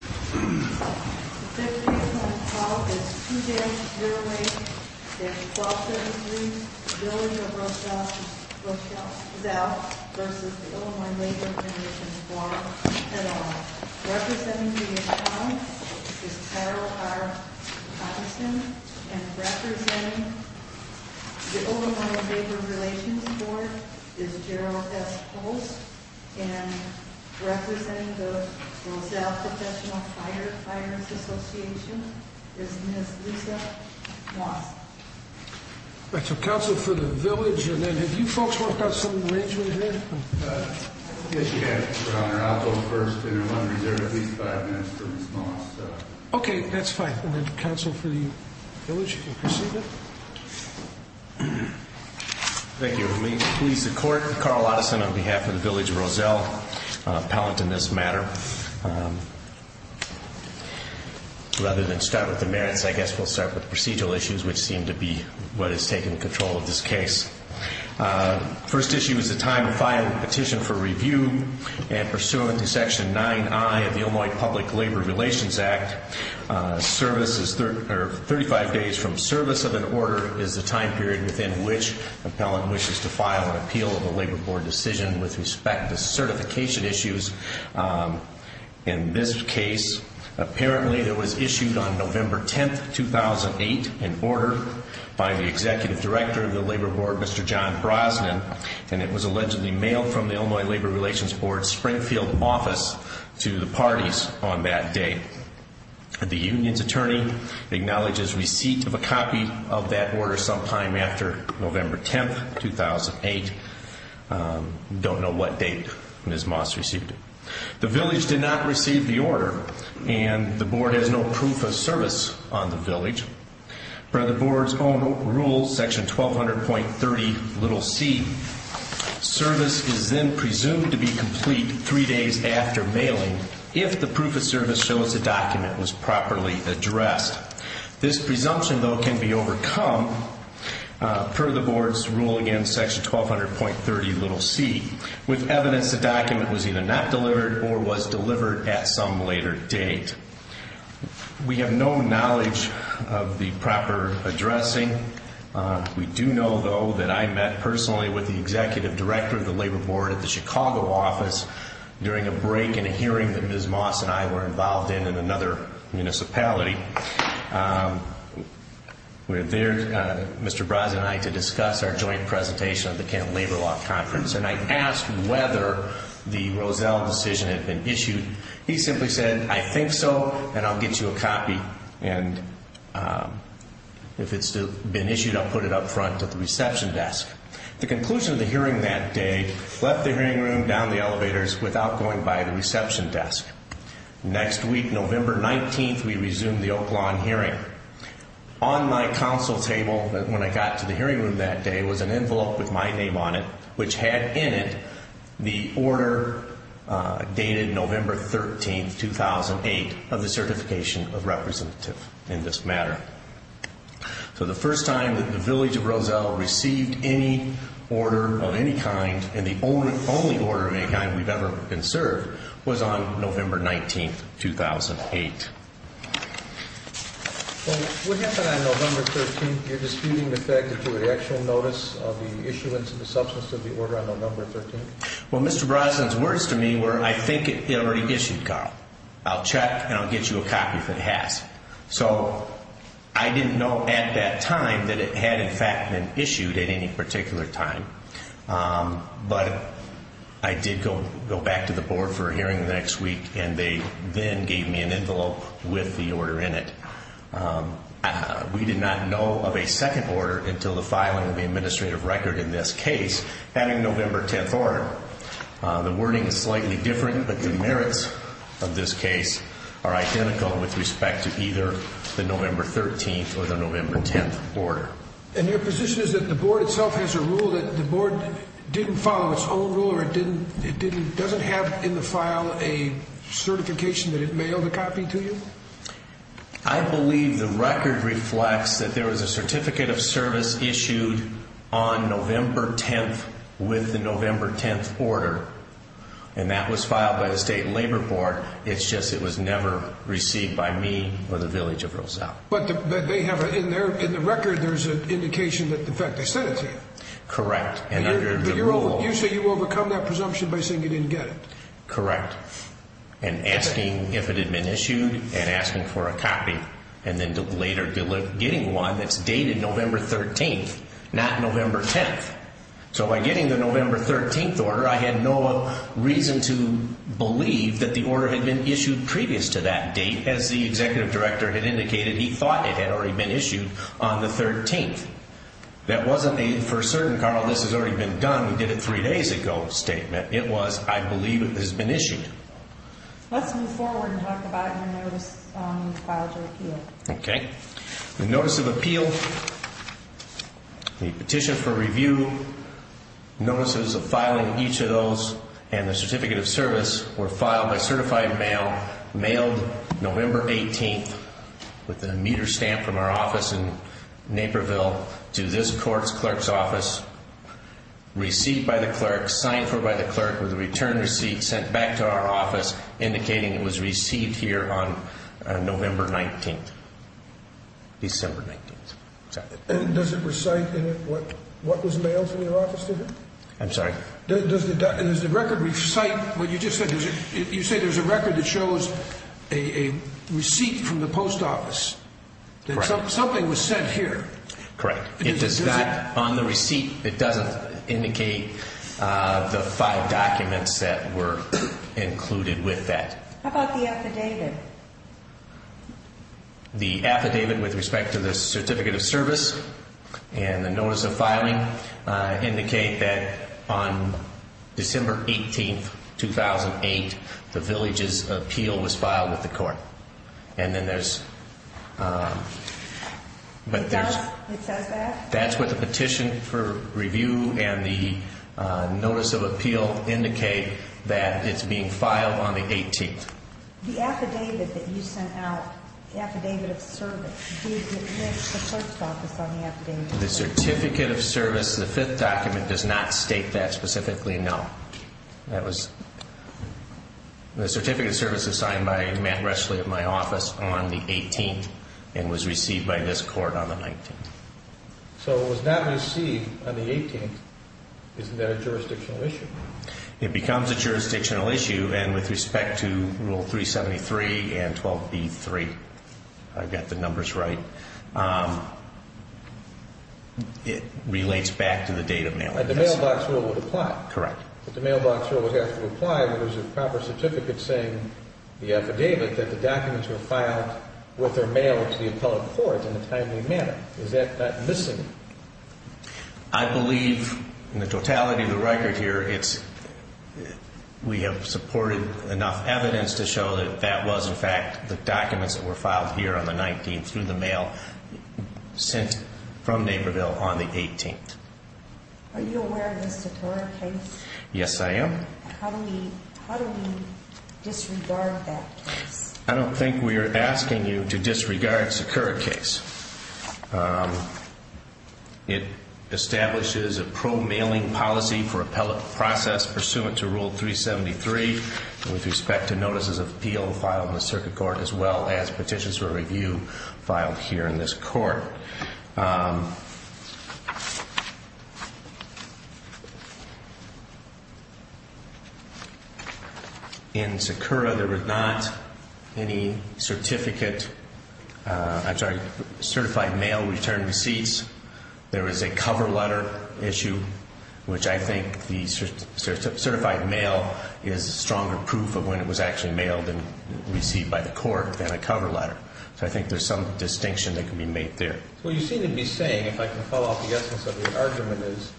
The fifth case on this trial is 2-0-8-1273, the building of Roselle v. Illinois Labor Relations Board at all. Representing the account is Carol R. Patterson and representing the Illinois Labor Relations Board is Gerald S. Pulse and representing the Roselle Professional Firefighters Association is Ms. Lisa Moss Council for the Village, have you folks worked out some arrangement here? Yes, Your Honor. I'll go first and I'm wondering if there are at least five minutes for Ms. Moss. Okay, that's fine. Council for the Village, you can proceed then. Thank you. Let me please the Court. I'm Carl Otteson on behalf of the Village of Roselle, appellant in this matter. Rather than start with the merits, I guess we'll start with the procedural issues, which seem to be what is taking control of this case. First issue is the time of filing petition for review and pursuant to Section 9I of the Illinois Public Labor Relations Act. Thirty-five days from service of an order is the time period within which the appellant wishes to file an appeal of the Labor Board decision with respect to certification issues. In this case, apparently it was issued on November 10, 2008, in order by the Executive Director of the Labor Board, Mr. John Brosnan, and it was allegedly mailed from the Illinois Labor Relations Board Springfield office to the parties on that day. The union's attorney acknowledges receipt of a copy of that order sometime after November 10, 2008. Don't know what date Ms. Moss received it. The Village did not receive the order and the Board has no proof of service on the Village. Per the Board's own rules, Section 1200.30c, service is then presumed to be complete three days after mailing if the proof of service shows the document was properly addressed. This presumption, though, can be overcome per the Board's rule again, Section 1200.30c, with evidence the document was either not delivered or was delivered at some later date. We have no knowledge of the proper addressing. We do know, though, that I met personally with the Executive Director of the Labor Board at the Chicago office during a break in a hearing that Ms. Moss and I were involved in in another municipality. We were there, Mr. Brosnan and I, to discuss our joint presentation at the Kent Labor Law Conference, and I asked whether the Rozelle decision had been issued. He simply said, I think so, and I'll get you a copy, and if it's been issued, I'll put it up front at the reception desk. The conclusion of the hearing that day left the hearing room down the elevators without going by the reception desk. Next week, November 19, we resumed the Oak Lawn hearing. On my council table when I got to the hearing room that day was an envelope with my name on it, which had in it the order dated November 13, 2008, of the certification of representative in this matter. So the first time that the village of Rozelle received any order of any kind, and the only order of any kind we've ever been served, was on November 19, 2008. Well, what happened on November 13? You're disputing the fact that there was an actual notice of the issuance of the substance of the order on November 13? Well, Mr. Brosnan's words to me were, I think it already issued, Carl. I'll check and I'll get you a copy if it has. So I didn't know at that time that it had, in fact, been issued at any particular time, but I did go back to the board for a hearing the next week, and they then gave me an envelope with the order in it. We did not know of a second order until the filing of the administrative record in this case, having November 10 order. The wording is slightly different, but the merits of this case are identical with respect to either the November 13 or the November 10 order. And your position is that the board itself has a rule that the board didn't follow its own rule, or it doesn't have in the file a certification that it mailed a copy to you? I believe the record reflects that there was a certificate of service issued on November 10 with the November 10 order, and that was filed by the State Labor Board. It's just it was never received by me or the Village of Roselle. But in the record there's an indication that, in fact, they sent it to you. Correct. But you say you overcome that presumption by saying you didn't get it. Correct. And asking if it had been issued and asking for a copy, and then later getting one that's dated November 13, not November 10. So by getting the November 13 order, I had no reason to believe that the order had been issued previous to that date. As the executive director had indicated, he thought it had already been issued on the 13th. That wasn't a, for certain, Carl, this has already been done, we did it three days ago, statement. It was, I believe it has been issued. Let's move forward and talk about your notice of appeal. Okay. The notice of appeal, the petition for review, notices of filing each of those, and the certificate of service were filed by certified mail, mailed November 18th with a meter stamp from our office in Naperville to this court's clerk's office, received by the clerk, signed for by the clerk with a return receipt sent back to our office, indicating it was received here on November 19th, December 19th. And does it recite in it what was mailed from your office to here? I'm sorry? Does the record recite what you just said? You say there's a record that shows a receipt from the post office, that something was sent here. Correct. It does not, on the receipt, it doesn't indicate the five documents that were included with that. How about the affidavit? The affidavit with respect to the certificate of service and the notice of filing indicate that on December 18th, 2008, the villages appeal was filed with the court. And then there's, but there's. It says that? That's what the petition for review and the notice of appeal indicate that it's being filed on the 18th. The affidavit that you sent out, the affidavit of service, did it miss the clerk's office on the affidavit? The certificate of service, the fifth document, does not state that specifically, no. That was, the certificate of service is signed by Matt Reschle of my office on the 18th and was received by this court on the 19th. So it was not received on the 18th. Isn't that a jurisdictional issue? It becomes a jurisdictional issue. And with respect to Rule 373 and 12b-3, I've got the numbers right, it relates back to the date of mailing. And the mailbox rule would apply? Correct. But the mailbox rule would have to apply if it was a proper certificate saying the affidavit, that the documents were filed with or mailed to the appellate court in a timely manner. Is that not missing? I believe, in the totality of the record here, we have supported enough evidence to show that that was, in fact, the documents that were filed here on the 19th through the mail sent from Naperville on the 18th. Are you aware of the Secura case? Yes, I am. How do we disregard that case? I don't think we are asking you to disregard Secura case. It establishes a pro-mailing policy for appellate process pursuant to Rule 373 with respect to notices of appeal filed in the circuit court as well as petitions for review filed here in this court. In Secura, there was not any certificate, I'm sorry, certified mail return receipts. There was a cover letter issue, which I think the certified mail is a stronger proof of when it was actually mailed and received by the court than a cover letter. So I think there's some distinction that can be made there. Well, you seem to be saying, if I can follow up the essence of the argument is,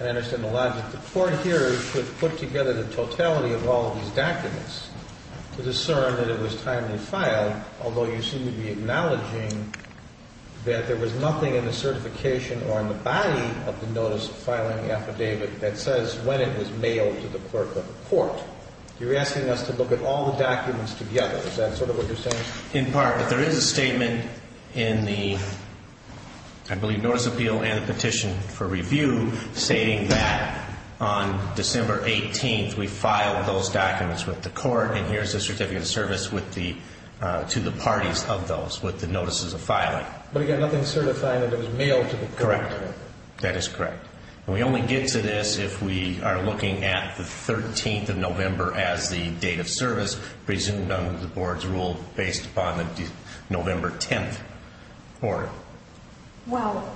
and I understand the logic, the court here put together the totality of all of these documents to discern that it was timely filed, although you seem to be acknowledging that there was nothing in the certification or in the body of the notice filing affidavit that says when it was mailed to the clerk of the court. You're asking us to look at all the documents together. Is that sort of what you're saying? In part, but there is a statement in the, I believe, Notice of Appeal and the Petition for Review, stating that on December 18th, we filed those documents with the court, and here's the certificate of service to the parties of those with the notices of filing. But again, nothing certifying that it was mailed to the court. Correct. That is correct. And we only get to this if we are looking at the 13th of November as the date of service, presumed under the board's rule, based upon the November 10th order. Well,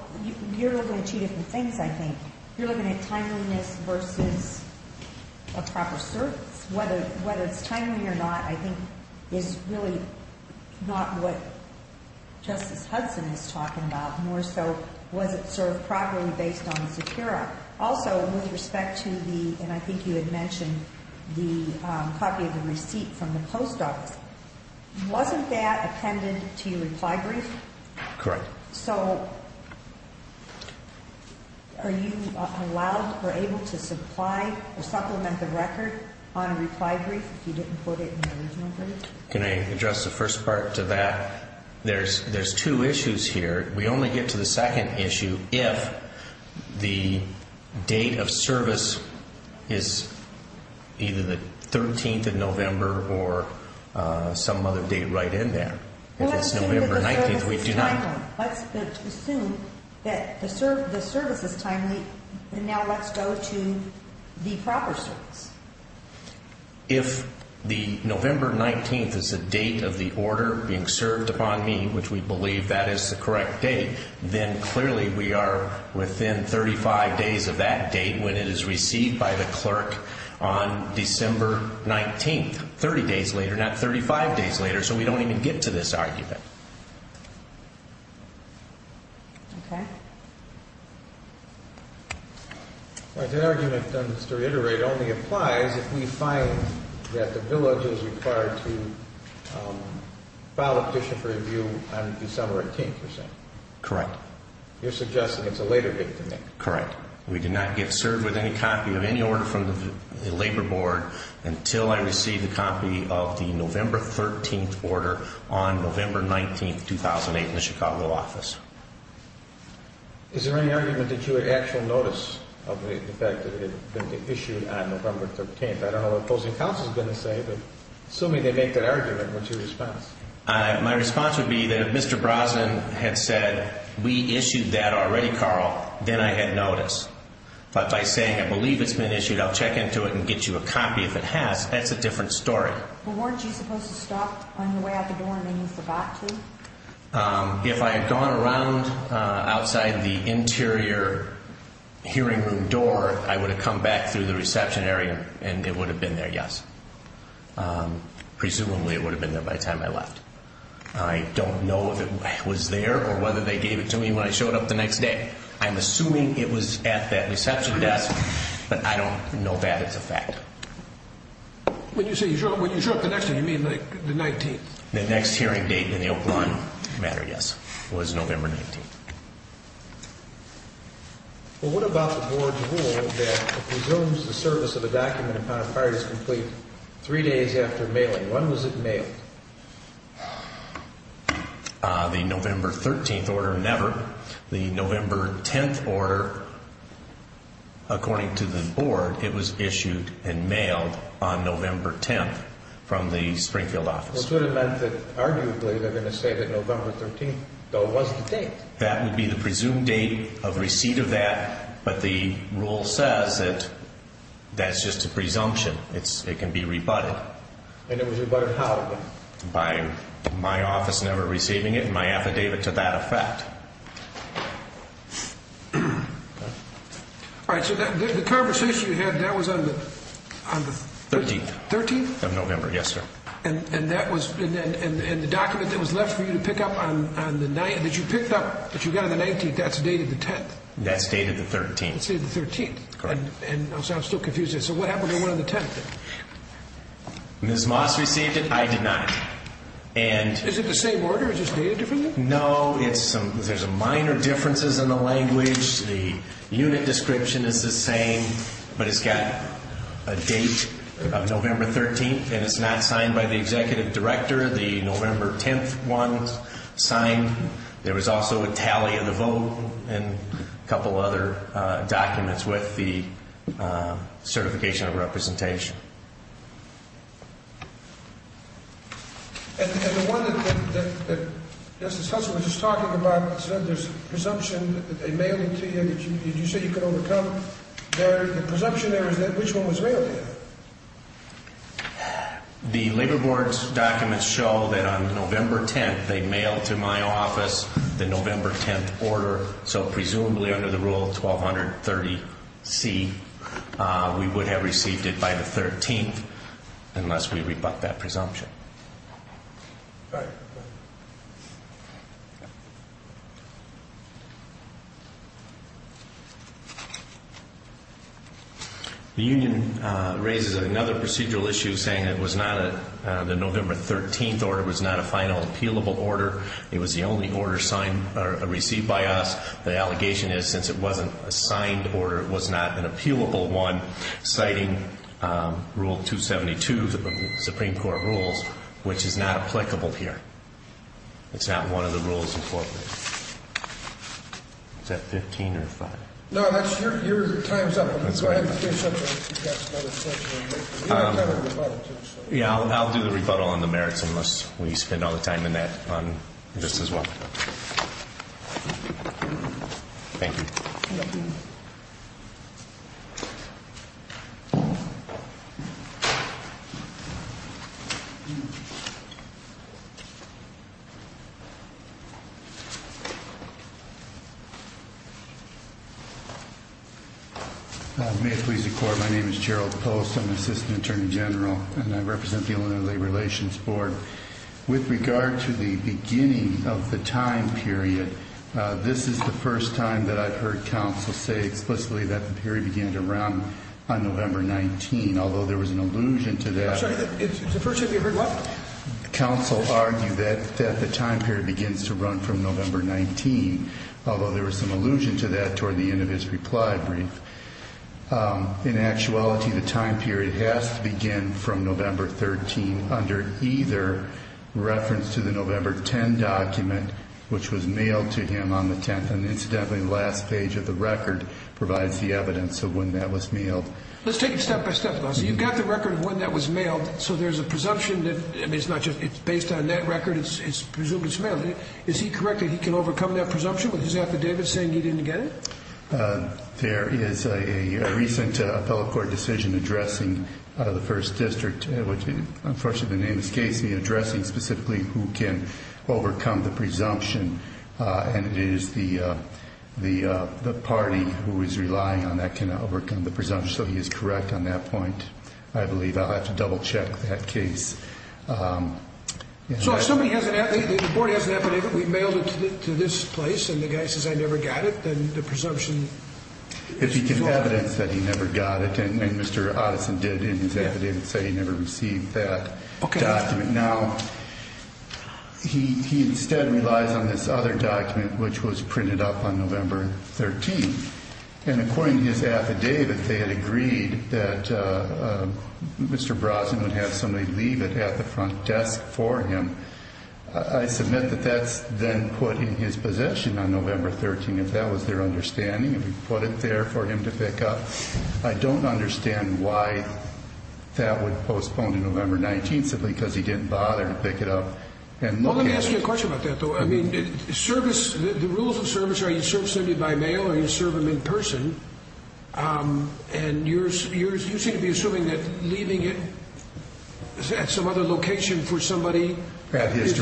you're looking at two different things, I think. You're looking at timeliness versus a proper service. Whether it's timely or not, I think, is really not what Justice Hudson is talking about, more so was it served properly based on the Sakura. Also, with respect to the, and I think you had mentioned the copy of the receipt from the post office, wasn't that appended to your reply brief? Correct. So are you allowed or able to supply or supplement the record on a reply brief if you didn't put it in the original brief? Can I address the first part to that? There's two issues here. We only get to the second issue if the date of service is either the 13th of November or some other date right in there. Well, let's assume that the service is timely. Let's assume that the service is timely, and now let's go to the proper service. If the November 19th is the date of the order being served upon me, which we believe that is the correct date, then clearly we are within 35 days of that date when it is received by the clerk on December 19th, 30 days later, not 35 days later. So we don't even get to this argument. Okay. The argument, just to reiterate, only applies if we find that the village is required to file a petition for review on December 18th, you're saying? Correct. You're suggesting it's a later date than that? Correct. We do not get served with any copy of any order from the labor board until I receive a copy of the November 13th order on November 19th, 2008, in the Chicago office. Is there any argument that you had actual notice of the fact that it had been issued on November 13th? I don't know what opposing counsel is going to say, but assuming they make that argument, what's your response? My response would be that if Mr. Brosnan had said, we issued that already, Carl, then I had notice. But by saying, I believe it's been issued, I'll check into it and get you a copy if it has, that's a different story. Well, weren't you supposed to stop on your way out the door and then use the bot too? If I had gone around outside the interior hearing room door, I would have come back through the reception area and it would have been there, yes. Presumably it would have been there by the time I left. I don't know if it was there or whether they gave it to me when I showed up the next day. I'm assuming it was at that reception desk, but I don't know that it's a fact. When you say you showed up the next day, you mean the 19th? The next hearing date in the Oakland matter, yes, was November 19th. Well, what about the board's rule that it presumes the service of a document upon acquired is complete three days after mailing? When was it mailed? The November 13th order, never. The November 10th order, according to the board, it was issued and mailed on November 10th from the Springfield office. This would have meant that arguably they're going to say that November 13th, though, was the date. That would be the presumed date of receipt of that, but the rule says that that's just a presumption. It can be rebutted. And it was rebutted how? By my office never receiving it and my affidavit to that effect. All right, so the conversation you had, that was on the... 13th. 13th? 13th of November, yes, sir. And the document that was left for you to pick up on the 19th, that you picked up, that you got on the 19th, that's dated the 10th? That's dated the 13th. That's dated the 13th. Correct. And I'm still confused here. So what happened to the one on the 10th? Ms. Moss received it. I did not. Is it the same order? Is it just dated differently? No. There's minor differences in the language. The unit description is the same, but it's got a date of November 13th, and it's not signed by the executive director. The November 10th one's signed. There was also a tally of the vote and a couple other documents with the certification of representation. And the one that Justice Husserl was just talking about, there's presumption that they mailed it to you that you said you could overcome. The presumption there is that which one was mailed to you? The Labor Board's documents show that on November 10th, they mailed to my office the November 10th order. So presumably under the Rule 1230C, we would have received it by the 13th unless we rebut that presumption. All right. Thank you. The union raises another procedural issue, saying the November 13th order was not a final appealable order. It was the only order signed or received by us. The allegation is since it wasn't a signed order, it was not an appealable one, citing Rule 272 of the Supreme Court rules, which is not applicable here. It's not one of the rules incorporated. Is that 15 or 5? No, your time's up. Go ahead and do something. You've got another 10 minutes. You've got a rebuttal to show. Yeah, I'll do the rebuttal on the merits unless we spend all the time in that on this as well. Thank you. May it please the Court, my name is Gerald Post. I'm an assistant attorney general, and I represent the Illinois Relations Board. With regard to the beginning of the time period, this is the first time that I've heard counsel say explicitly that the period began to run on November 19, although there was an allusion to that. I'm sorry, it's the first time you've heard what? Counsel argued that the time period begins to run from November 19, although there was some allusion to that toward the end of his reply brief. In actuality, the time period has to begin from November 13 under either reference to the November 10 document, which was mailed to him on the 10th. And incidentally, the last page of the record provides the evidence of when that was mailed. Let's take it step by step. You've got the record of when that was mailed, so there's a presumption that it's based on that record. It's presumed it's mailed. Is he correct that he can overcome that presumption with his affidavit saying he didn't get it? There is a recent appellate court decision addressing the First District, which unfortunately the name is Casey, addressing specifically who can overcome the presumption, and it is the party who is relying on that can overcome the presumption. So he is correct on that point. I believe I'll have to double-check that case. So if somebody has an affidavit, the board has an affidavit, we've mailed it to this place, and the guy says, I never got it, then the presumption is false. It's evidence that he never got it, and Mr. Otteson did in his affidavit say he never received that document. Now, he instead relies on this other document, which was printed up on November 13. And according to his affidavit, they had agreed that Mr. Brosnan would have somebody leave it at the front desk for him. I submit that that's then put in his possession on November 13, if that was their understanding, if he put it there for him to pick up. I don't understand why that would postpone to November 19 simply because he didn't bother to pick it up. Well, let me ask you a question about that, though. I mean, the rules of service are you serve somebody by mail or you serve them in person, and you seem to be assuming that leaving it at some other location for somebody is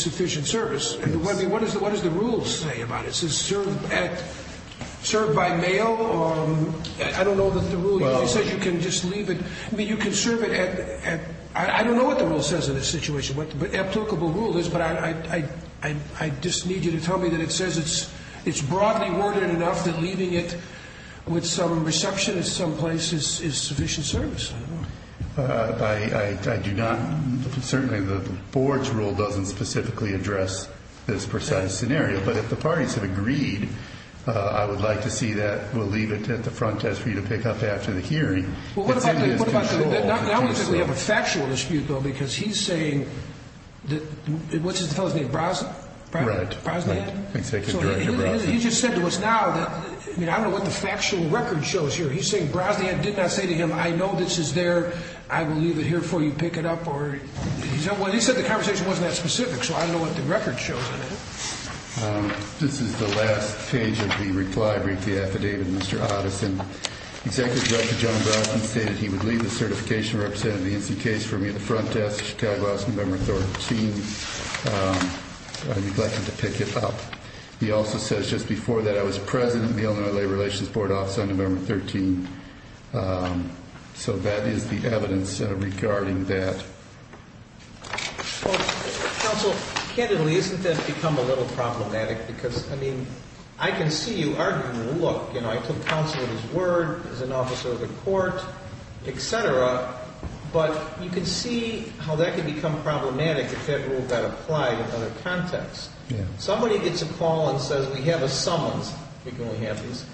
sufficient service. I mean, what does the rule say about it? It says serve by mail, or I don't know what the rule is. It says you can just leave it. I mean, you can serve it at – I don't know what the rule says in this situation, what the applicable rule is, but I just need you to tell me that it says it's broadly worded enough that leaving it with some receptionist someplace is sufficient service. I do not – certainly the board's rule doesn't specifically address this precise scenario, but if the parties have agreed, I would like to see that. We'll leave it at the front desk for you to pick up after the hearing. Well, what about the – I don't think we have a factual dispute, though, because he's saying that – what's his fellow's name, Brosnan? Right. Brosnan. Executive Director Brosnan. He just said to us now that – I mean, I don't know what the factual record shows here. He's saying Brosnan did not say to him, I know this is there, I will leave it here for you, pick it up, or – he said the conversation wasn't that specific, so I don't know what the record shows in it. This is the last page of the reply brief, the affidavit, Mr. Otteson. Executive Director John Brosnan stated he would leave the certification representative of the NC case for me at the front desk, Chicago House, November 13. I neglected to pick it up. He also says just before that I was president of the Illinois Labor Relations Board Office on November 13. So that is the evidence regarding that. Counsel, candidly, isn't this become a little problematic? Because, I mean, I can see you arguing, look, you know, I took counsel at his word, he's an officer of the court, et cetera, but you can see how that can become problematic if that rule got applied in other contexts. Somebody gets a call and says we have a summons, we can only have these,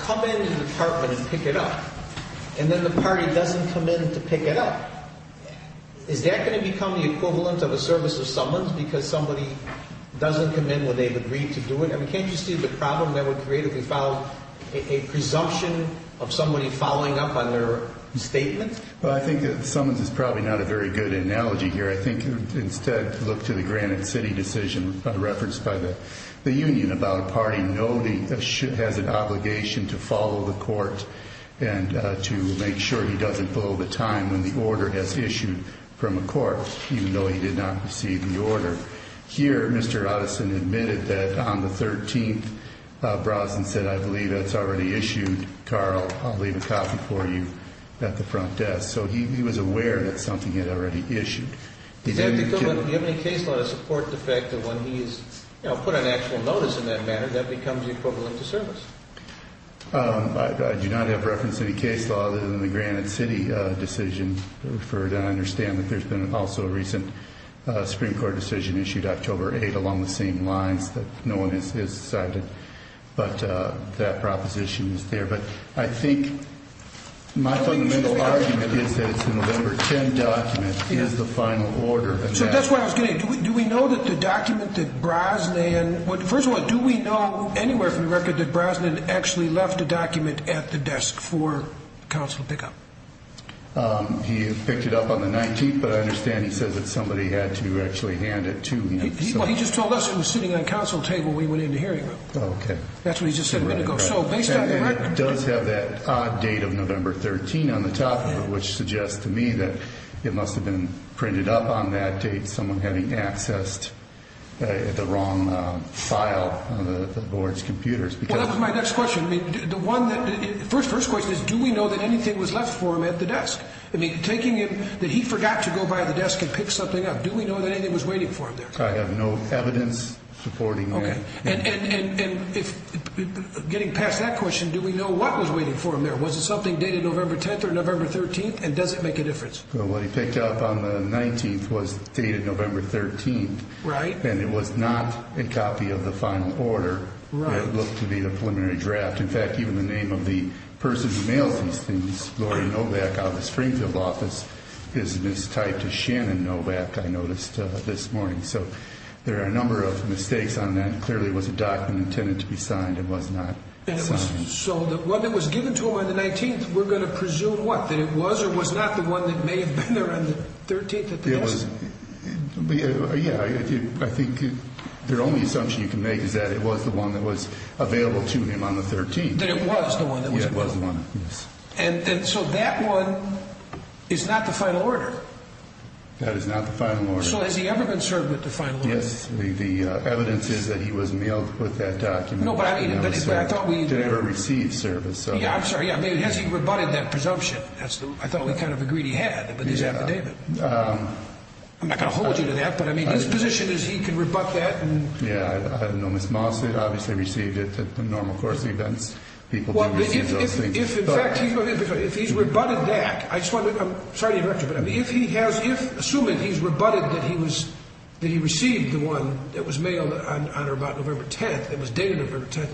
come into the department and pick it up, and then the party doesn't come in to pick it up. Is that going to become the equivalent of a service of summons because somebody doesn't come in when they've agreed to do it? I mean, can't you see the problem that would create if we filed a presumption of somebody following up on their statement? Well, I think that summons is probably not a very good analogy here. I think instead to look to the Granite City decision referenced by the union about a party noting it has an obligation to follow the court and to make sure he doesn't blow the time when the order has issued from a court, even though he did not receive the order. Here, Mr. Otteson admitted that on the 13th, Bronson said, I believe that's already issued. Carl, I'll leave a copy for you at the front desk. So he was aware that something had already issued. Does that become a case law to support the fact that when he's put on actual notice in that manner, that becomes equivalent to service? I do not have reference to any case law other than the Granite City decision referred. And I understand that there's been also a recent Supreme Court decision issued October 8 along the same lines that no one has cited. But that proposition is there. But I think my fundamental argument is that it's a November 10 document is the final order. So that's what I was getting at. Do we know that the document that Brosnan – that Brosnan actually left a document at the desk for counsel to pick up? He picked it up on the 19th. But I understand he says that somebody had to actually hand it to him. Well, he just told us it was sitting on a counsel table when he went in the hearing room. Oh, OK. That's what he just said a minute ago. So based on the record – And it does have that odd date of November 13 on the top of it, which suggests to me that it must have been printed up on that date, someone having accessed the wrong file on the board's computers. Well, that was my next question. The first question is, do we know that anything was left for him at the desk? I mean, taking it that he forgot to go by the desk and pick something up, do we know that anything was waiting for him there? I have no evidence supporting that. And getting past that question, do we know what was waiting for him there? Was it something dated November 10 or November 13? And does it make a difference? Well, what he picked up on the 19th was dated November 13. Right. And it was not a copy of the final order. Right. It looked to be the preliminary draft. In fact, even the name of the person who mailed these things, Laurie Novak, out of the Springfield office, is mistyped as Shannon Novak, I noticed this morning. So there are a number of mistakes on that. Clearly it was a document intended to be signed. It was not signed. So the one that was given to him on the 19th, we're going to presume what? That it was or was not the one that may have been there on the 13th at the desk? Yeah. I think the only assumption you can make is that it was the one that was available to him on the 13th. That it was the one that was available. Yeah, it was the one, yes. And so that one is not the final order? That is not the final order. So has he ever been served with the final order? Yes. The evidence is that he was mailed with that document. No, but I mean, but I thought we... He never received service, so... Yeah, I'm sorry. I mean, has he rebutted that presumption? I thought we kind of agreed he had with his affidavit. I'm not going to hold you to that, but I mean, his position is he can rebut that and... Yeah, I know Ms. Moss had obviously received it at the normal course of events. People do receive those things. Well, if in fact he's rebutted that, I just want to... I'm sorry to interrupt you, but if he has... Assuming he's rebutted that he received the one that was mailed on or about November 10th, that was dated November 10th,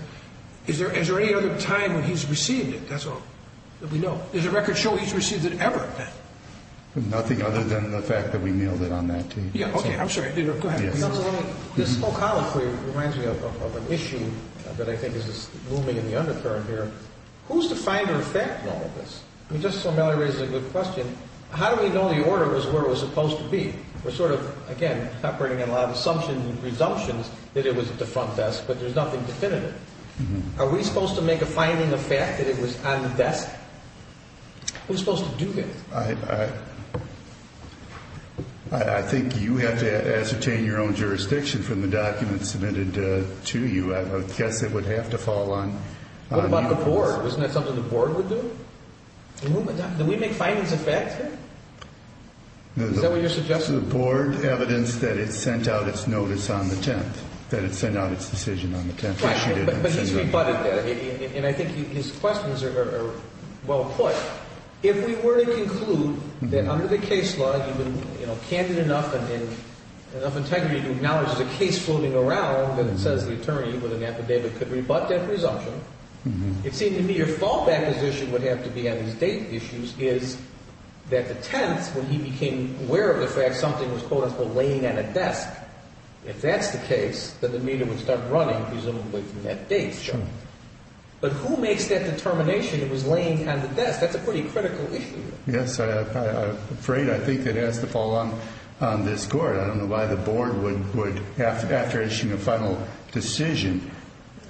is there any other time when he's received it? That's all that we know. Does the record show he's received it ever? Nothing other than the fact that we mailed it on that date. Yeah, okay, I'm sorry. Go ahead. This whole column for you reminds me of an issue that I think is looming in the undercurrent here. Who's the finder of fact in all of this? I mean, Justice O'Malley raises a good question. How do we know the order is where it was supposed to be? We're sort of, again, operating on a lot of assumptions and presumptions that it was at the front desk, but there's nothing definitive. Are we supposed to make a finding of fact that it was on the desk? Who's supposed to do this? I think you have to ascertain your own jurisdiction from the documents submitted to you. I guess it would have to fall on you. What about the board? Isn't that something the board would do? Do we make findings of fact here? Is that what you're suggesting? The board evidenced that it sent out its notice on the 10th, that it sent out its decision on the 10th. But he's rebutted that, and I think his questions are well put. If we were to conclude that under the case law, you've been candid enough and in enough integrity to acknowledge the case floating around, and it says the attorney with an affidavit could rebut that presumption, it seemed to me your fallback position would have to be on these date issues is that the 10th, when he became aware of the fact something was, quote, unquote, laying on a desk, if that's the case, then the meter would start running presumably from that date. Sure. But who makes that determination it was laying on the desk? That's a pretty critical issue. Yes, I'm afraid I think it has to fall on this Court. I don't know why the board would, after issuing a final decision,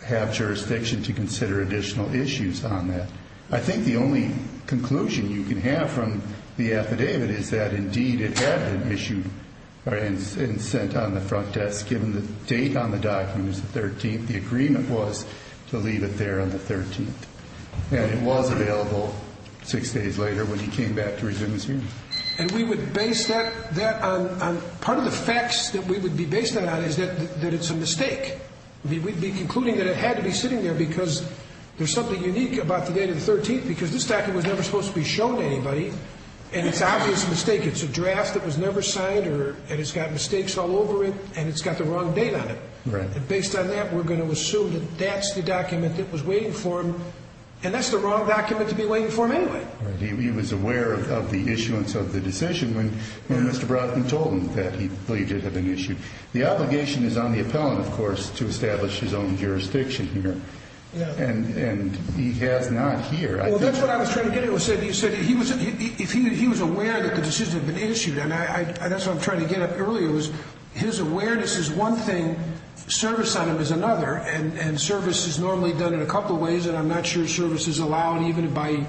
have jurisdiction to consider additional issues on that. I think the only conclusion you can have from the affidavit is that, indeed, it had been issued and sent on the front desk given the date on the document is the 13th. The agreement was to leave it there on the 13th. And it was available six days later when he came back to resume his hearing. And we would base that on part of the facts that we would be basing that on is that it's a mistake. We'd be concluding that it had to be sitting there because there's something unique about the date of the 13th because this document was never supposed to be shown to anybody, and it's obviously a mistake. It's a draft that was never signed, and it's got mistakes all over it, and it's got the wrong date on it. Right. And based on that, we're going to assume that that's the document that was waiting for him, and that's the wrong document to be waiting for him anyway. Right. He was aware of the issuance of the decision when Mr. Brodkin told him that he believed it had been issued. The obligation is on the appellant, of course, to establish his own jurisdiction here, and he has not here. Well, that's what I was trying to get at. You said he was aware that the decision had been issued, and that's what I'm trying to get at earlier. His awareness is one thing, service on him is another, and service is normally done in a couple of ways, and I'm not sure service is allowed even by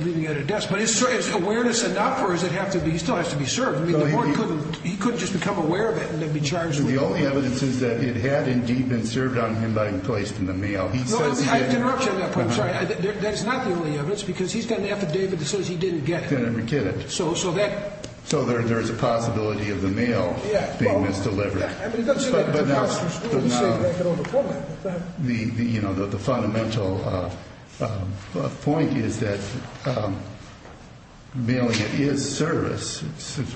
leaving at a desk. But is awareness enough, or does it have to be? He still has to be served. He couldn't just become aware of it and then be charged with it. The only evidence is that it had indeed been served on him by him placed in the mail. I interrupt you on that point. I'm sorry. That is not the only evidence because he's got an affidavit that says he didn't get it. He didn't get it. So that. So there is a possibility of the mail being misdelivered. But now the fundamental point is that mailing it is service,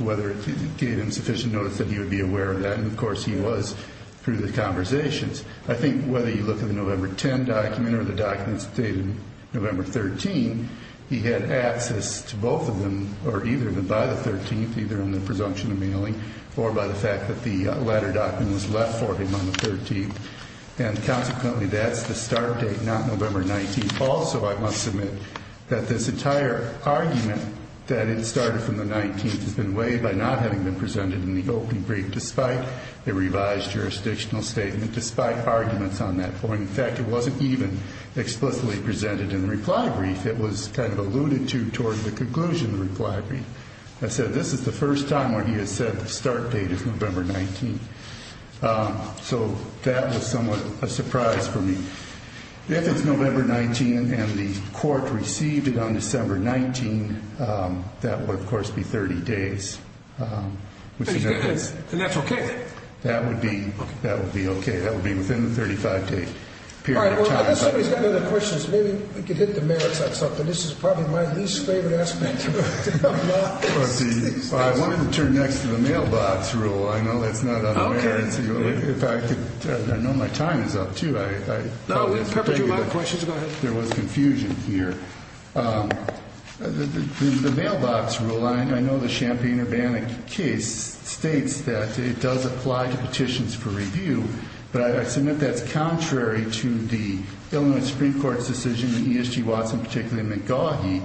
whether it gave him sufficient notice that he would be aware of that, and, of course, he was through the conversations. I think whether you look at the November 10 document or the documents dated November 13, he had access to both of them, or either by the 13th, either on the presumption of mailing or by the fact that the letter document was left for him on the 13th. And consequently, that's the start date, not November 19. Also, I must submit that this entire argument that it started from the 19th has been weighed by not having been presented in the opening brief, despite the revised jurisdictional statement, despite arguments on that point. In fact, it wasn't even explicitly presented in the reply brief. It was kind of alluded to toward the conclusion of the reply brief. I said this is the first time where he has said the start date is November 19. So that was somewhat a surprise for me. If it's November 19 and the court received it on December 19, that would, of course, be 30 days. And that's okay? That would be okay. That would be within the 35-day period of time. All right. Well, I guess somebody's got other questions. Maybe we could hit the merits on something. This is probably my least favorite aspect. I wanted to turn next to the mailbox rule. I know that's not on the merits. I know my time is up, too. No, we've covered a lot of questions. Go ahead. There was confusion here. The mailbox rule, I know the Champaign-Urbanic case states that it does apply to petitions for review, but I submit that's contrary to the Illinois Supreme Court's decision in ESG Watson, particularly McGaughey,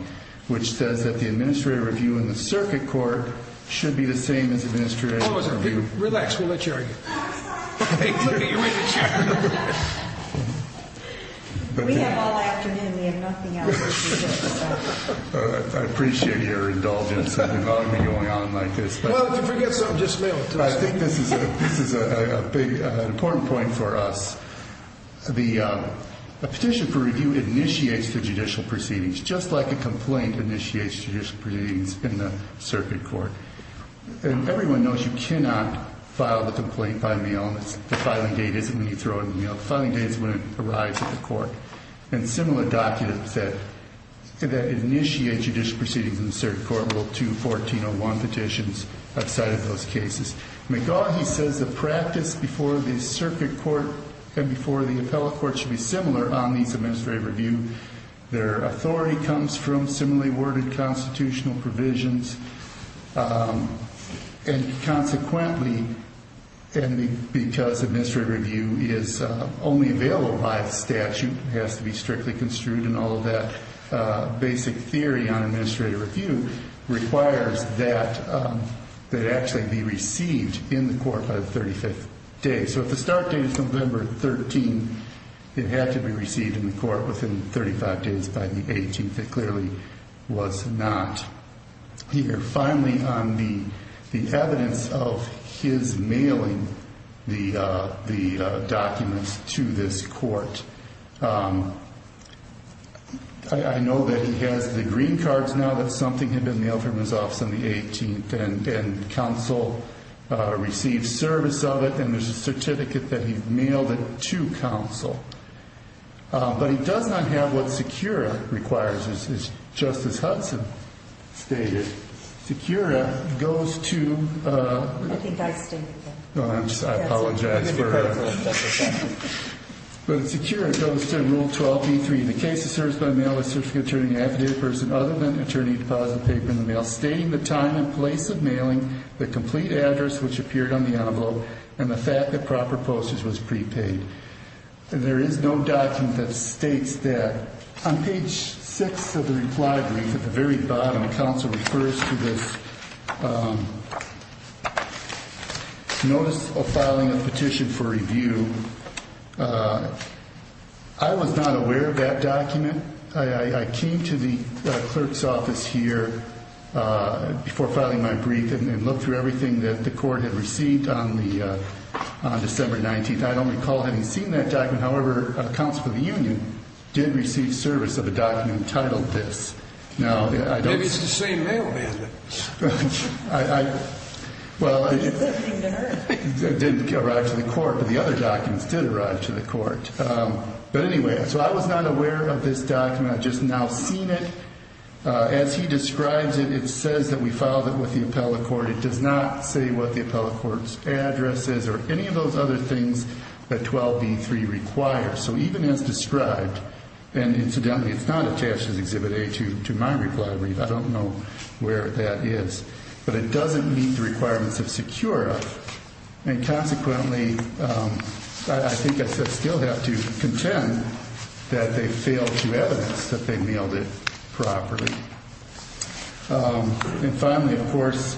which says that the administrative review in the circuit court should be the same as administrative review. Relax. We'll let you argue. Look at you in the chair. We have all afternoon. We have nothing else to do. I appreciate your indulgence in involving me going on like this. Well, if you forget something, just mail it to us. I think this is an important point for us. A petition for review initiates the judicial proceedings, just like a complaint initiates judicial proceedings in the circuit court. Everyone knows you cannot file the complaint by mail. The filing date isn't when you throw it in the mail. And similar documents that initiate judicial proceedings in the circuit court will, too, 1401 petitions have cited those cases. McGaughey says the practice before the circuit court and before the appellate court should be similar on these administrative review. Their authority comes from similarly worded constitutional provisions, and consequently, because administrative review is only available by statute, it has to be strictly construed, and all of that basic theory on administrative review requires that it actually be received in the court by the 35th day. So if the start date is November 13, it had to be received in the court within 35 days by the 18th. It clearly was not here. Finally, on the evidence of his mailing the documents to this court, I know that he has the green cards now that something had been mailed from his office on the 18th, and counsel received service of it, and there's a certificate that he mailed it to counsel. But he does not have what SECURA requires, as Justice Hudson stated. SECURA goes to... I think I stated that. I apologize for... But SECURA goes to Rule 12b-3, and there is no document that states that. On page 6 of the reply brief at the very bottom, counsel refers to this notice of filing a petition for review. I was not aware of that document. I came to the clerk's office here before filing my brief and looked through everything that the court had received on December 19th. I don't recall having seen that document. However, counsel for the union did receive service of a document titled this. Now, I don't... Maybe it's the same mailman. Well, it didn't arrive to the court, but the other documents did arrive to the court. But anyway, so I was not aware of this document. I've just now seen it. As he describes it, it says that we filed it with the appellate court. It does not say what the appellate court's address is or any of those other things that 12b-3 requires. So even as described, and incidentally, it's not attached as Exhibit A to my reply brief. I don't know where that is. But it doesn't meet the requirements of SECURA. And consequently, I think I still have to contend that they failed to evidence that they mailed it properly. And finally, of course,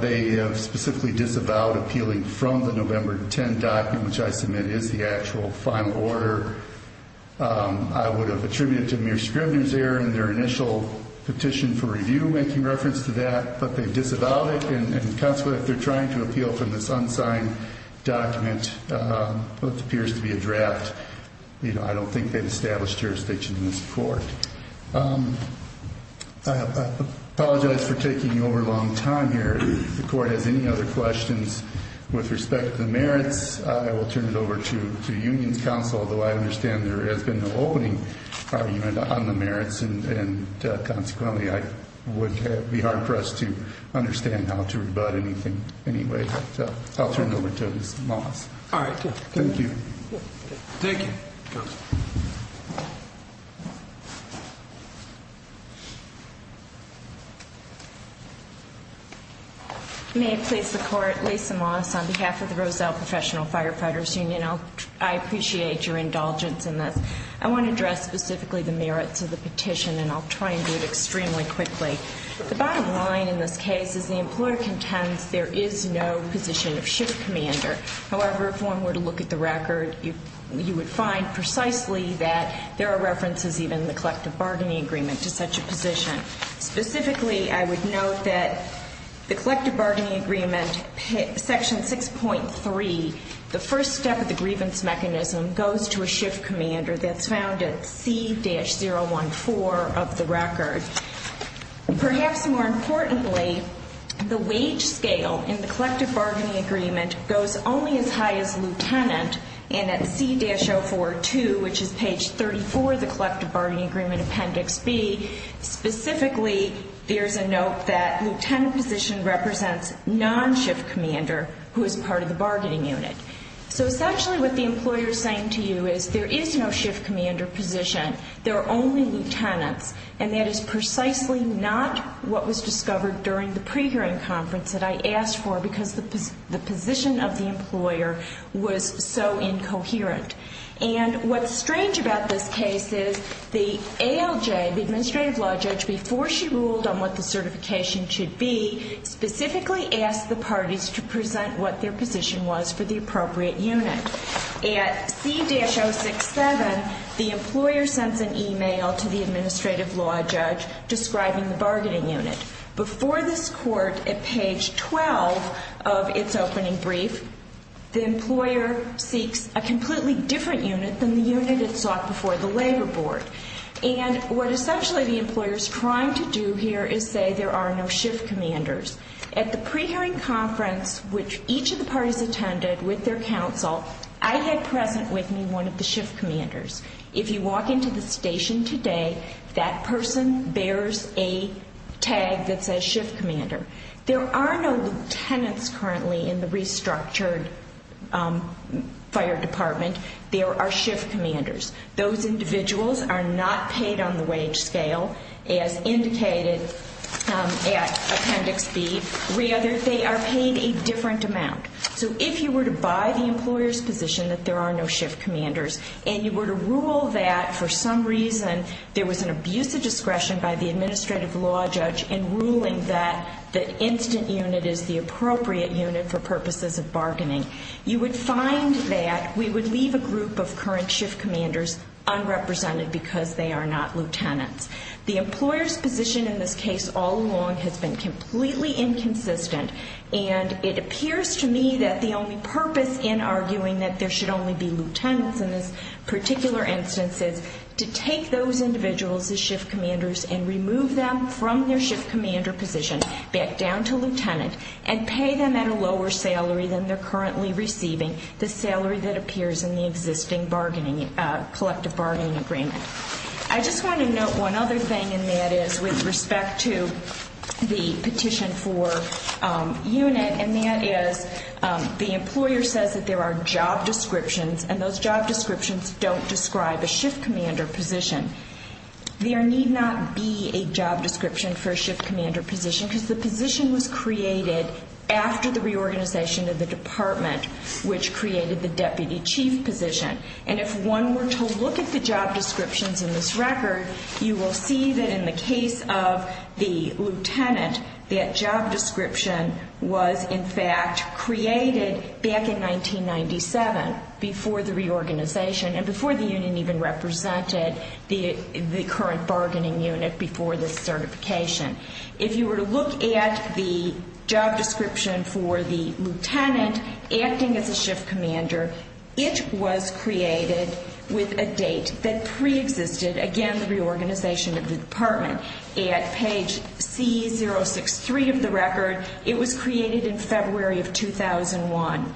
they specifically disavowed appealing from the November 10 document, which I submit is the actual final order. I would have attributed it to mere scrivener's error in their initial petition for review, making reference to that, but they disavowed it. And consequently, if they're trying to appeal from this unsigned document, which appears to be a draft, I don't think they've established jurisdiction in this court. I apologize for taking over a long time here. If the court has any other questions with respect to the merits, I will turn it over to the Union's counsel, although I understand there has been no opening on the merits. And consequently, I would be hard-pressed to understand how to rebut anything anyway. So I'll turn it over to Ms. Moss. All right. Thank you. Thank you. Counsel. May it please the court. Lisa Moss on behalf of the Roselle Professional Firefighters Union. I appreciate your indulgence in this. I want to address specifically the merits of the petition, and I'll try and do it extremely quickly. The bottom line in this case is the employer contends there is no position of ship commander. However, if one were to look at the record, you would find precisely that there are references even in the collective bargaining agreement to such a position. Specifically, I would note that the collective bargaining agreement, Section 6.3, the first step of the grievance mechanism goes to a ship commander that's found at C-014 of the record. Perhaps more importantly, the wage scale in the collective bargaining agreement goes only as high as lieutenant, and at C-042, which is page 34 of the collective bargaining agreement, Appendix B, specifically there's a note that lieutenant position represents non-ship commander who is part of the bargaining unit. So essentially what the employer is saying to you is there is no ship commander position. There are only lieutenants, and that is precisely not what was discovered during the pre-hearing conference that I asked for because the position of the employer was so incoherent. And what's strange about this case is the ALJ, the administrative law judge, before she ruled on what the certification should be, specifically asked the parties to present what their position was for the appropriate unit. At C-067, the employer sends an e-mail to the administrative law judge describing the bargaining unit. Before this court, at page 12 of its opening brief, the employer seeks a completely different unit than the unit it sought before the labor board. And what essentially the employer is trying to do here is say there are no ship commanders. At the pre-hearing conference, which each of the parties attended with their counsel, I had present with me one of the ship commanders. If you walk into the station today, that person bears a tag that says ship commander. There are no lieutenants currently in the restructured fire department. There are ship commanders. Those individuals are not paid on the wage scale as indicated at appendix B. Rather, they are paid a different amount. So if you were to buy the employer's position that there are no ship commanders and you were to rule that for some reason there was an abuse of discretion by the administrative law judge in ruling that the instant unit is the appropriate unit for purposes of bargaining, you would find that we would leave a group of current ship commanders unrepresented because they are not lieutenants. The employer's position in this case all along has been completely inconsistent, and it appears to me that the only purpose in arguing that there should only be lieutenants in this particular instance is to take those individuals as ship commanders and remove them from their ship commander position back down to lieutenant and pay them at a lower salary than they're currently receiving, the salary that appears in the existing collective bargaining agreement. I just want to note one other thing, and that is with respect to the petition for unit, and that is the employer says that there are job descriptions, and those job descriptions don't describe a ship commander position. There need not be a job description for a ship commander position because the position was created after the reorganization of the department, which created the deputy chief position. And if one were to look at the job descriptions in this record, you will see that in the case of the lieutenant, that job description was in fact created back in 1997 before the reorganization and before the union even represented the current bargaining unit before the certification. If you were to look at the job description for the lieutenant acting as a ship commander, it was created with a date that preexisted, again, the reorganization of the department. At page C063 of the record, it was created in February of 2001.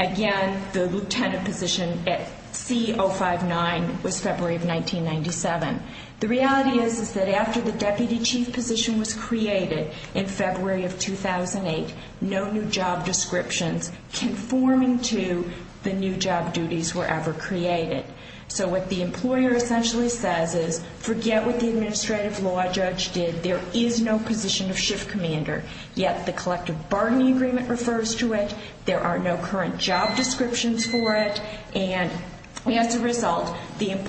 Again, the lieutenant position at C059 was February of 1997. The reality is that after the deputy chief position was created in February of 2008, no new job descriptions conforming to the new job duties were ever created. So what the employer essentially says is forget what the administrative law judge did. There is no position of ship commander, yet the collective bargaining agreement refers to it. There are no current job descriptions for it, and as a result, it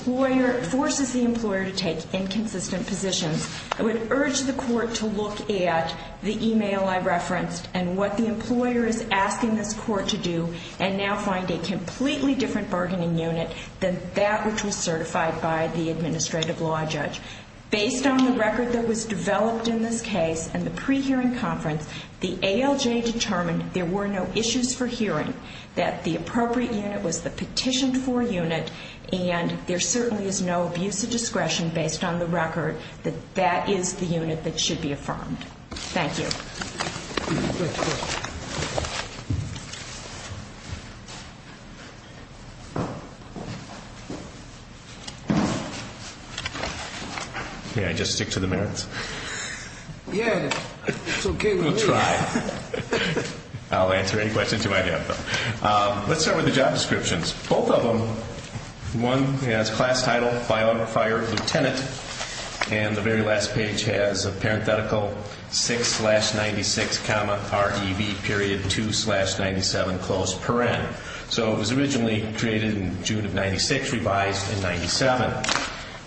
forces the employer to take inconsistent positions. I would urge the court to look at the email I referenced and what the employer is asking this court to do and now find a completely different bargaining unit than that which was certified by the administrative law judge. Based on the record that was developed in this case and the pre-hearing conference, the ALJ determined there were no issues for hearing, that the appropriate unit was the petitioned for unit, and there certainly is no abuse of discretion based on the record that that is the unit that should be affirmed. Thank you. May I just stick to the merits? Yeah, it's okay with me. I'll try. I'll answer any questions you might have, though. Let's start with the job descriptions. Both of them, one has class title, fire lieutenant, and the very last page has a parenthetical 6-96-REV.2-97. So it was originally created in June of 96, revised in 97.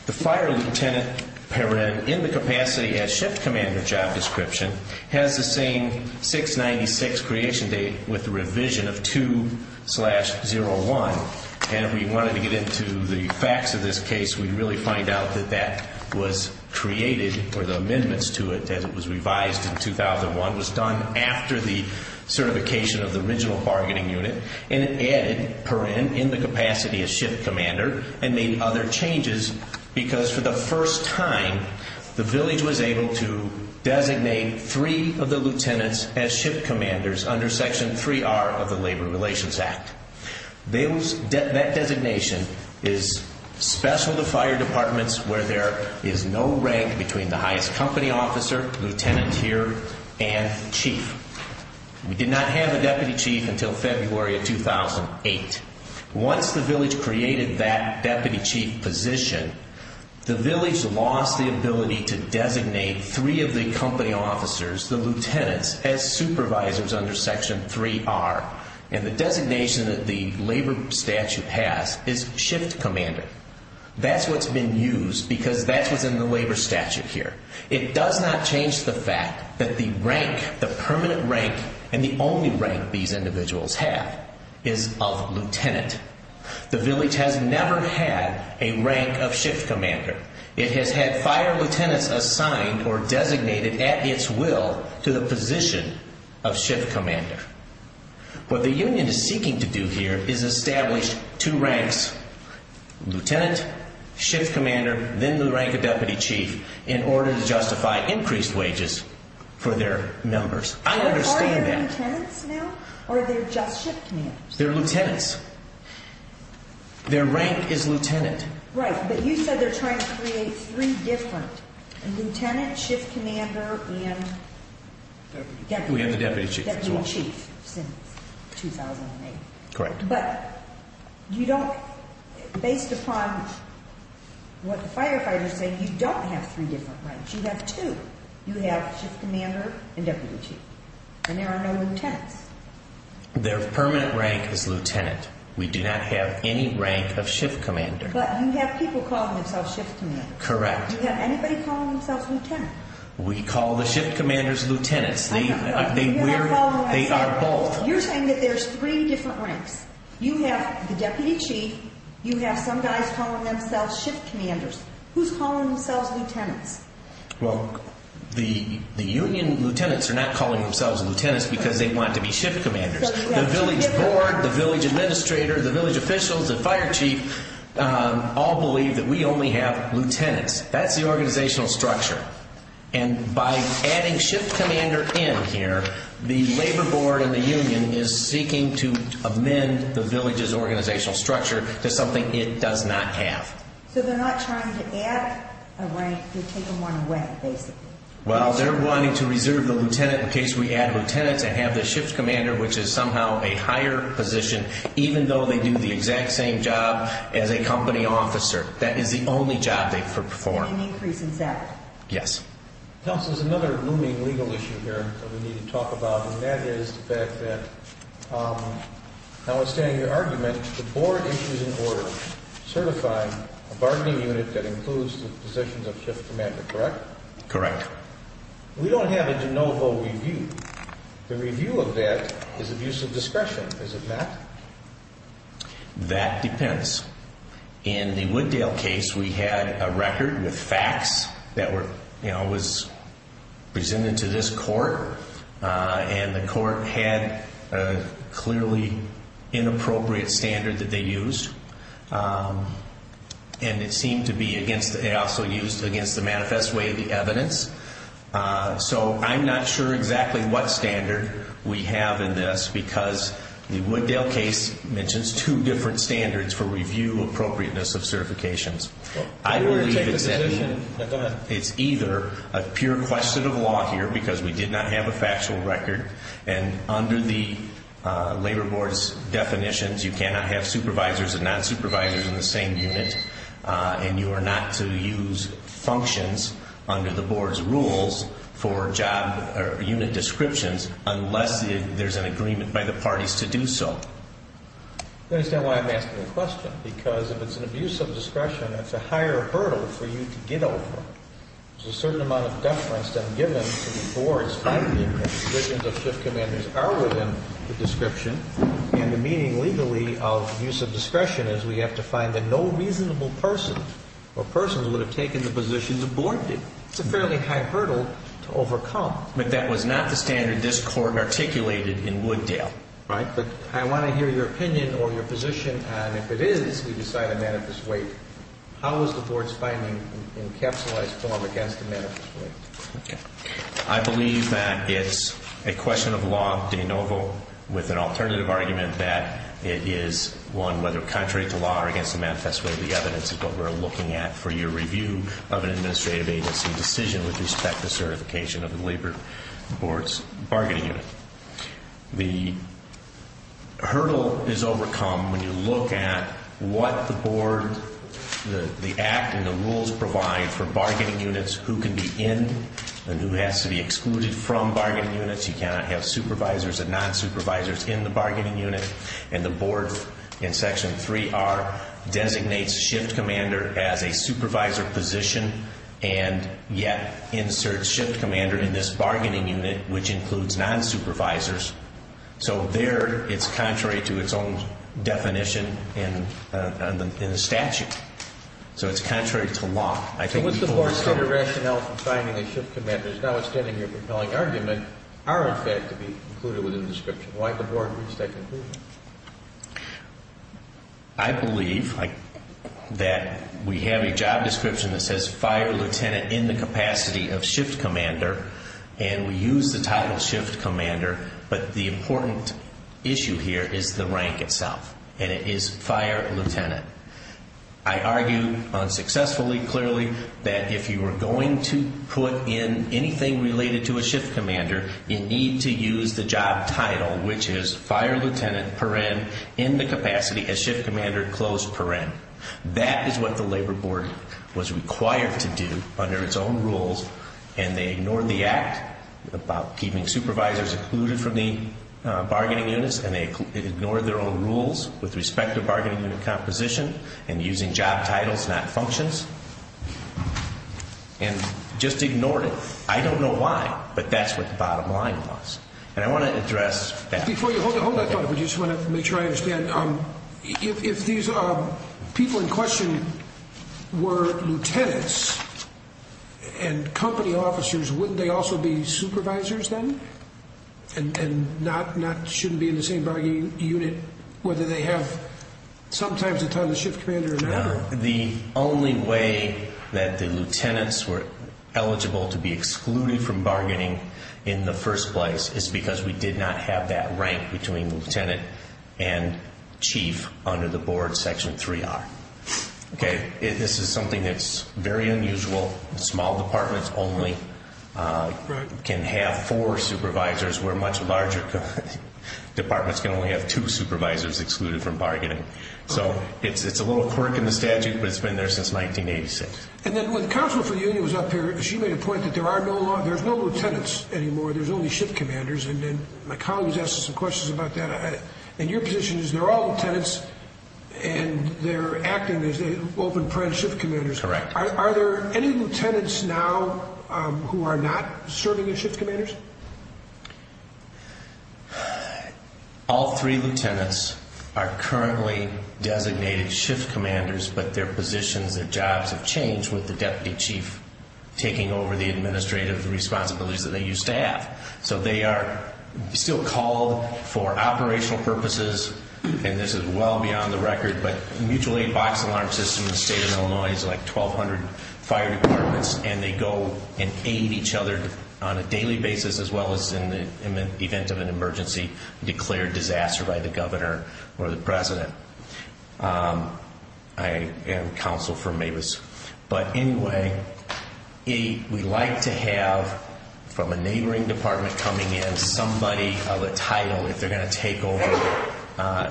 The fire lieutenant, Perrin, in the capacity as shift commander job description, has the same 6-96 creation date with the revision of 2-01, and if we wanted to get into the facts of this case, we'd really find out that that was created, or the amendments to it as it was revised in 2001, was done after the certification of the original bargaining unit, and it added Perrin in the capacity as shift commander and made other changes because for the first time the village was able to designate three of the lieutenants as shift commanders under Section 3R of the Labor Relations Act. That designation is special to fire departments where there is no rank between the highest company officer, lieutenant here, and chief. We did not have a deputy chief until February of 2008. Once the village created that deputy chief position, the village lost the ability to designate three of the company officers, the lieutenants, as supervisors under Section 3R, and the designation that the labor statute has is shift commander. That's what's been used because that's what's in the labor statute here. It does not change the fact that the rank, the permanent rank, and the only rank these individuals have is of lieutenant. The village has never had a rank of shift commander. It has had fire lieutenants assigned or designated at its will to the position of shift commander. What the union is seeking to do here is establish two ranks, lieutenant, shift commander, then the rank of deputy chief, in order to justify increased wages for their members. I understand that. Are they lieutenants now or are they just shift commanders? They're lieutenants. Their rank is lieutenant. Right, but you said they're trying to create three different, lieutenant, shift commander, and deputy chief since 2008. Correct. But you don't, based upon what the firefighters say, you don't have three different ranks. You have two. You have shift commander and deputy chief, and there are no lieutenants. Their permanent rank is lieutenant. We do not have any rank of shift commander. But you have people calling themselves shift commanders. Correct. You have anybody calling themselves lieutenant. We call the shift commanders lieutenants. I know, but you're not calling them lieutenants. They are both. You're saying that there's three different ranks. You have the deputy chief. You have some guys calling themselves shift commanders. Who's calling themselves lieutenants? Well, the union lieutenants are not calling themselves lieutenants because they want to be shift commanders. The village board, the village administrator, the village officials, the fire chief, all believe that we only have lieutenants. That's the organizational structure. And by adding shift commander in here, the labor board and the union is seeking to amend the village's organizational structure to something it does not have. So they're not trying to add a rank. They're taking one away, basically. Well, they're wanting to reserve the lieutenant in case we add lieutenants and have the shift commander, which is somehow a higher position, even though they do the exact same job as a company officer. That is the only job they perform. Yes. Counsel, there's another looming legal issue here that we need to talk about, and that is the fact that, notwithstanding your argument, the board issues an order certifying a bargaining unit that includes the positions of shift commander, correct? Correct. We don't have a de novo review. The review of that is abuse of discretion. Is it not? That depends. In the Wooddale case, we had a record with facts that was presented to this court, and the court had a clearly inappropriate standard that they used, and it seemed to be against the manifest way of the evidence. So I'm not sure exactly what standard we have in this because the Wooddale case mentions two different standards for review appropriateness of certifications. I believe it's either a pure question of law here, because we did not have a factual record, and under the Labor Board's definitions, you cannot have supervisors and non-supervisors in the same unit, and you are not to use functions under the board's rules for job or unit descriptions unless there's an agreement by the parties to do so. I don't understand why I'm asking the question, because if it's an abuse of discretion, it's a higher hurdle for you to get over. There's a certain amount of deference then given to the board's finding that the positions of shift commanders are within the description, and the meaning legally of abuse of discretion is we have to find a no reasonable person or persons who would have taken the positions the board did. It's a fairly high hurdle to overcome. But that was not the standard this Court articulated in Wooddale. Right, but I want to hear your opinion or your position on if it is we decide a manifest wait. How is the board's finding encapsulized form against a manifest wait? Okay. I believe that it's a question of law de novo with an alternative argument that it is one whether contrary to law or against a manifest wait. I believe the evidence is what we're looking at for your review of an administrative agency decision with respect to certification of the Labor Board's bargaining unit. The hurdle is overcome when you look at what the board, the act, and the rules provide for bargaining units, who can be in and who has to be excluded from bargaining units. You cannot have supervisors and non-supervisors in the bargaining unit. And the board in Section 3R designates shift commander as a supervisor position and yet inserts shift commander in this bargaining unit, which includes non-supervisors. So there it's contrary to its own definition in the statute. So it's contrary to law. So what's the board's standard rationale for finding a shift commander? Now it's getting your compelling argument, are in fact to be included within the description. Why did the board reach that conclusion? I believe that we have a job description that says fire lieutenant in the capacity of shift commander, and we use the title shift commander, but the important issue here is the rank itself, and it is fire lieutenant. I argue unsuccessfully clearly that if you were going to put in anything related to a shift commander, you need to use the job title, which is fire lieutenant in the capacity of shift commander. That is what the labor board was required to do under its own rules, and they ignored the act about keeping supervisors excluded from the bargaining units, and they ignored their own rules with respect to bargaining unit composition and using job titles, not functions, and just ignored it. I don't know why, but that's what the bottom line was, and I want to address that. Before you hold that thought, I just want to make sure I understand. If these people in question were lieutenants and company officers, wouldn't they also be supervisors then and shouldn't be in the same bargaining unit, whether they have sometimes a title shift commander or not? The only way that the lieutenants were eligible to be excluded from bargaining in the first place is because we did not have that rank between lieutenant and chief under the board section 3R. This is something that's very unusual. Small departments only can have four supervisors, where much larger departments can only have two supervisors excluded from bargaining. So it's a little quirk in the statute, but it's been there since 1986. And then when the Counselor for the Union was up here, she made a point that there's no lieutenants anymore, there's only shift commanders, and then my colleague was asking some questions about that. And your position is they're all lieutenants, and they're acting as open-press shift commanders. Correct. Are there any lieutenants now who are not serving as shift commanders? All three lieutenants are currently designated shift commanders, but their positions and jobs have changed with the deputy chief taking over the administrative responsibilities that they used to have. So they are still called for operational purposes, and this is well beyond the record, but mutual aid box alarm systems in the state of Illinois is like 1,200 fire departments, and they go and aid each other on a daily basis as well as in the event of an emergency declared disaster by the governor or the president. I am counsel for Mavis. But anyway, we like to have from a neighboring department coming in somebody of a title if they're going to take over,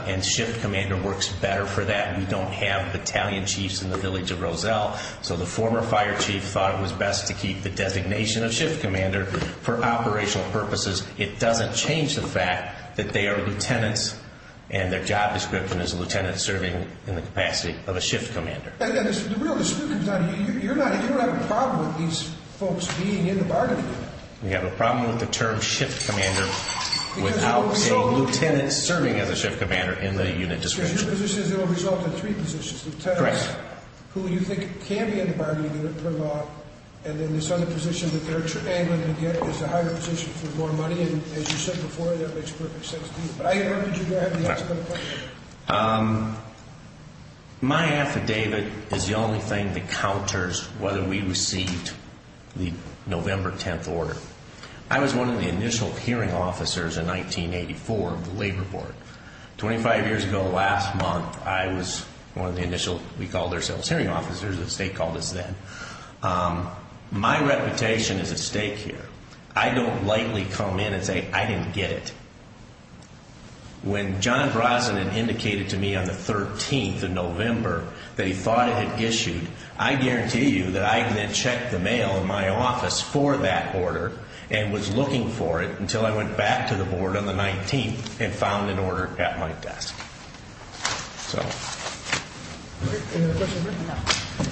and shift commander works better for that. We don't have battalion chiefs in the village of Roselle, so the former fire chief thought it was best to keep the designation of shift commander for operational purposes. It doesn't change the fact that they are lieutenants, and their job description is a lieutenant serving in the capacity of a shift commander. The real dispute comes down to you. You don't have a problem with these folks being in the bargaining unit. We have a problem with the term shift commander without a lieutenant serving as a shift commander in the unit description. So your position is it will result in three positions. Correct. Who you think can be in the bargaining unit per law, and then this other position that they're angling to get is a higher position for more money, and as you said before, that makes perfect sense to me. But I heard that you have the answer to that question. My affidavit is the only thing that counters whether we received the November 10th order. I was one of the initial hearing officers in 1984 of the labor board. Twenty-five years ago last month, I was one of the initial, we called ourselves, hearing officers. The state called us then. My reputation is at stake here. I don't lightly come in and say I didn't get it. When John Brosnan indicated to me on the 13th of November that he thought it had issued, I guarantee you that I then checked the mail in my office for that order and was looking for it until I went back to the board on the 19th and found an order at my desk. So. Thank you.